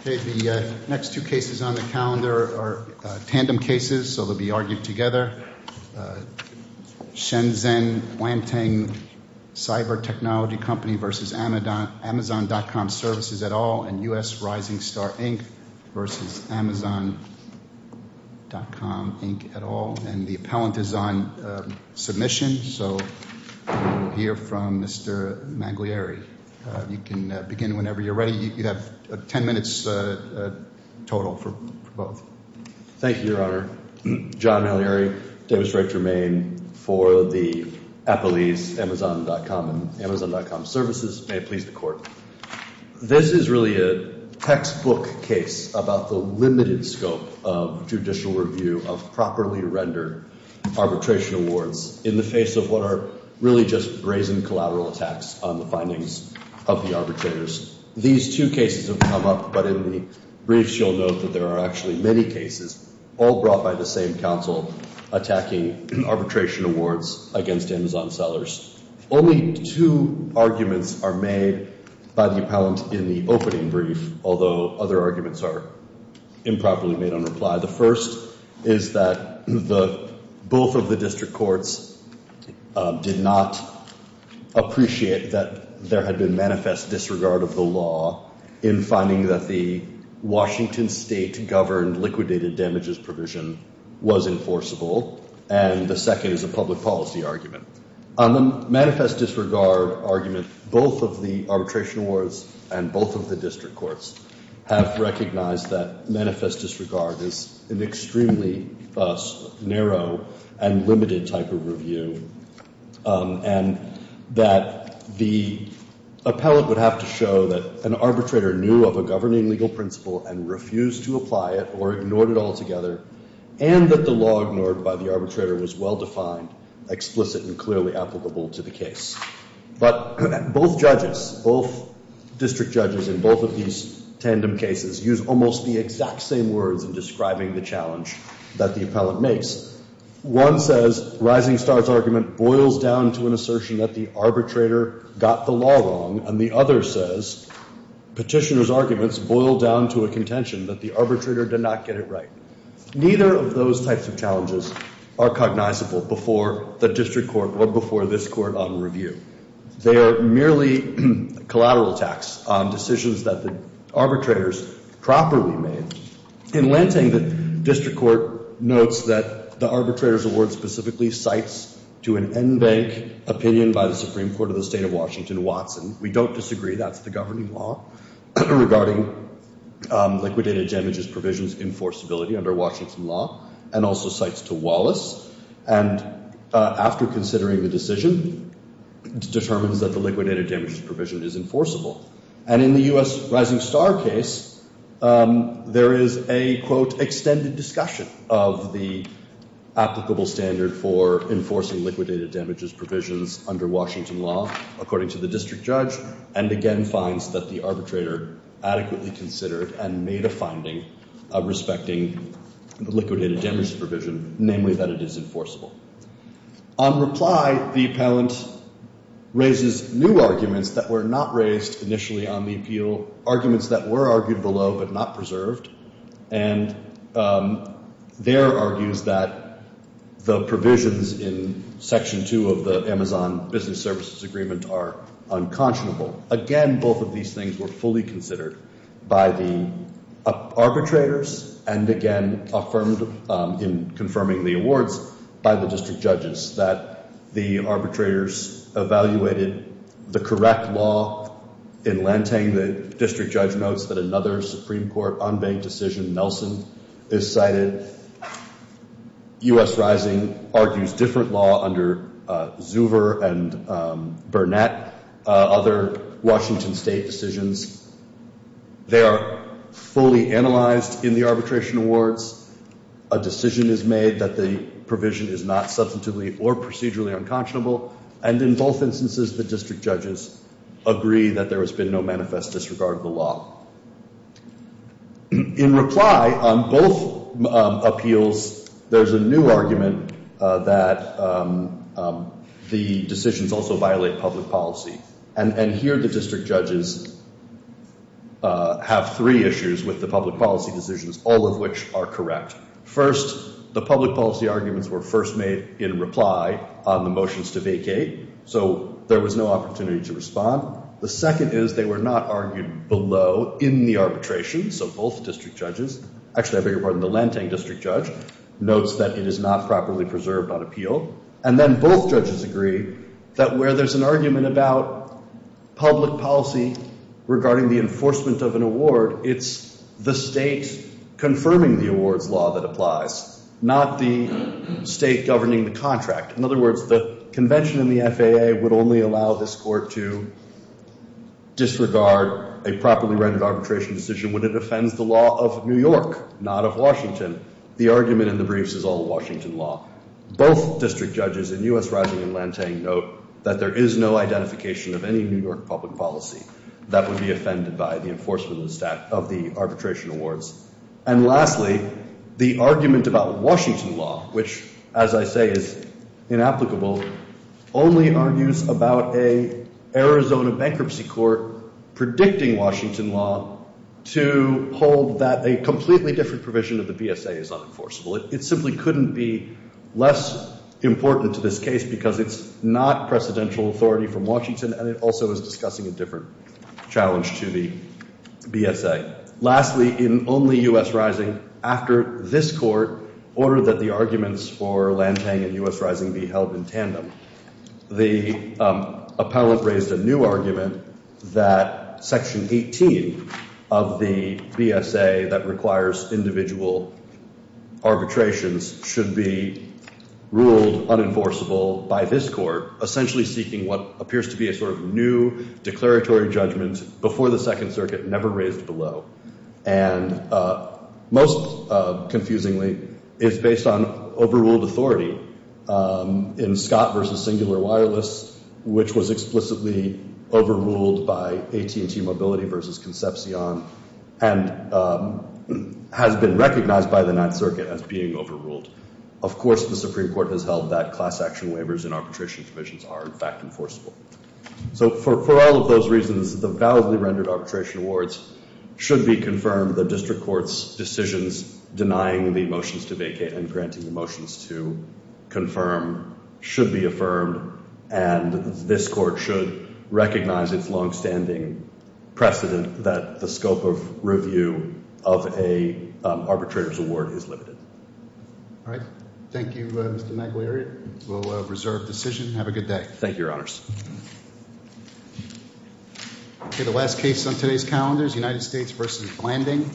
Okay, the next two cases on the calendar are tandem cases, so they'll be argued together. Shenzhen Lanteng Cyber Technology Company versus Amazon.com Services et al, and US Rising Star Inc versus Amazon.com Inc et al. And the appellant is on submission, so we'll hear from Mr. Manglieri. You can begin whenever you're ready. You have 10 minutes total for both. Thank you, Your Honor. John Manglieri, Demonstrator in Maine for the appellees, Amazon.com and Amazon.com Services. May it please the court. This is really a textbook case about the limited scope of judicial review of properly rendered arbitration awards in the face of what are really just brazen collateral attacks on the findings of the arbitrators. These two cases have come up, but in the briefs you'll note that there are actually many cases, all brought by the same counsel, attacking arbitration awards against Amazon sellers. Only two arguments are made by the appellant in the opening brief, although other arguments are improperly made on reply. The first is that both of the district courts did not appreciate that there had been manifest disregard of the law in finding that the Washington state governed liquidated damages provision was enforceable. And the second is a public policy argument. On the manifest disregard argument, both of the arbitration awards and both of the district courts have recognized that manifest disregard is an extremely narrow and limited type of review and that the appellant would have to show that an arbitrator knew of a governing legal principle and refused to apply it or ignored it altogether and that the law ignored by the arbitrator was well defined, explicit and clearly applicable to the case. But both judges, both district judges in both of these tandem cases use almost the exact same words in describing the challenge that the appellant makes. One says Rising Star's argument boils down to an assertion that the arbitrator got the law wrong and the other says Petitioner's arguments boil down to a contention that the arbitrator did not get it right. Neither of those types of challenges are cognizable before the district court or before this court on review. They are merely collateral attacks on decisions that the arbitrators properly made. In Lanting, the district court notes that the arbitrator's award specifically cites to an en banc opinion by the Supreme Court of the state of Washington, Watson. We don't disagree. That's the governing law regarding liquidated damages provisions enforceability under Washington law and also cites to Wallace. And after considering the decision, it determines that the liquidated damages provision is enforceable. And in the U.S. Rising Star case, there is a, quote, extended discussion of the applicable standard for enforcing liquidated damages provisions under Washington law according to the district judge and again finds that the arbitrator adequately considered and made a finding of respecting the liquidated damages provision, namely that it is enforceable. On reply, the appellant raises new arguments that were not raised initially on the appeal, arguments that were argued below but not preserved. And there argues that the provisions in Section 2 of the Amazon Business Services Agreement are unconscionable. Again, both of these things were fully considered by the arbitrators and again affirmed in confirming the awards by the district judges that the arbitrators evaluated the correct law in Lantang. The district judge notes that another Supreme Court unbanked decision, Nelson, is cited. U.S. Rising argues different law under Zuver and Burnett, other Washington state decisions. They are fully analyzed in the arbitration awards. A decision is made that the provision is not substantively or procedurally unconscionable and in both instances the district judges agree that there has been no manifest disregard of the law. In reply on both appeals, there's a new argument that the decisions also violate public policy. And here the district judges have three issues with the public policy decisions, all of which are correct. First, the public policy arguments were first made in reply on the motions to vacate, so there was no opportunity to respond. The second is they were not argued below in the arbitration, so both district judges. Actually, I beg your pardon, the Lantang district judge notes that it is not properly preserved on appeal. And then both judges agree that where there's an argument about public policy regarding the enforcement of an award, it's the state confirming the awards law that applies, not the state governing the contract. In other words, the convention in the FAA would only allow this court to disregard a properly rendered arbitration decision when it offends the law of New York, not of Washington. The argument in the briefs is all Washington law. Both district judges in U.S. Rajiv and Lantang note that there is no identification of any New York public policy that would be offended by the enforcement of the arbitration awards. And lastly, the argument about Washington law, which as I say is inapplicable, only argues about an Arizona bankruptcy court predicting Washington law to hold that a completely different provision of the BSA is unenforceable. It simply couldn't be less important to this case because it's not precedential authority from Washington and it also is discussing a different challenge to the BSA. Lastly, in only U.S. Rising, after this court ordered that the arguments for Lantang and U.S. Rising be held in tandem, the appellate raised a new argument that section 18 of the BSA that requires individual arbitrations should be ruled unenforceable by this court essentially seeking what appears to be a sort of new declaratory judgment before the Second Circuit never raised below. And most confusingly, it's based on overruled authority in Scott versus singular wireless which was explicitly overruled by AT&T Mobility versus Concepcion and has been recognized by the Ninth Circuit as being overruled. Of course, the Supreme Court has held that class action waivers and arbitration provisions are in fact enforceable. So for all of those reasons, the validly rendered arbitration awards should be confirmed. The district court's decisions denying the motions to vacate and granting the motions to confirm should be affirmed and this court should recognize its long-standing precedent that the scope of review of a arbitrator's award is limited. All right. Thank you, Mr. McAleary. We'll reserve decision. Have a good day. Thank you, Your Honors. Okay, the last case on today's calendar is United States versus Blanding.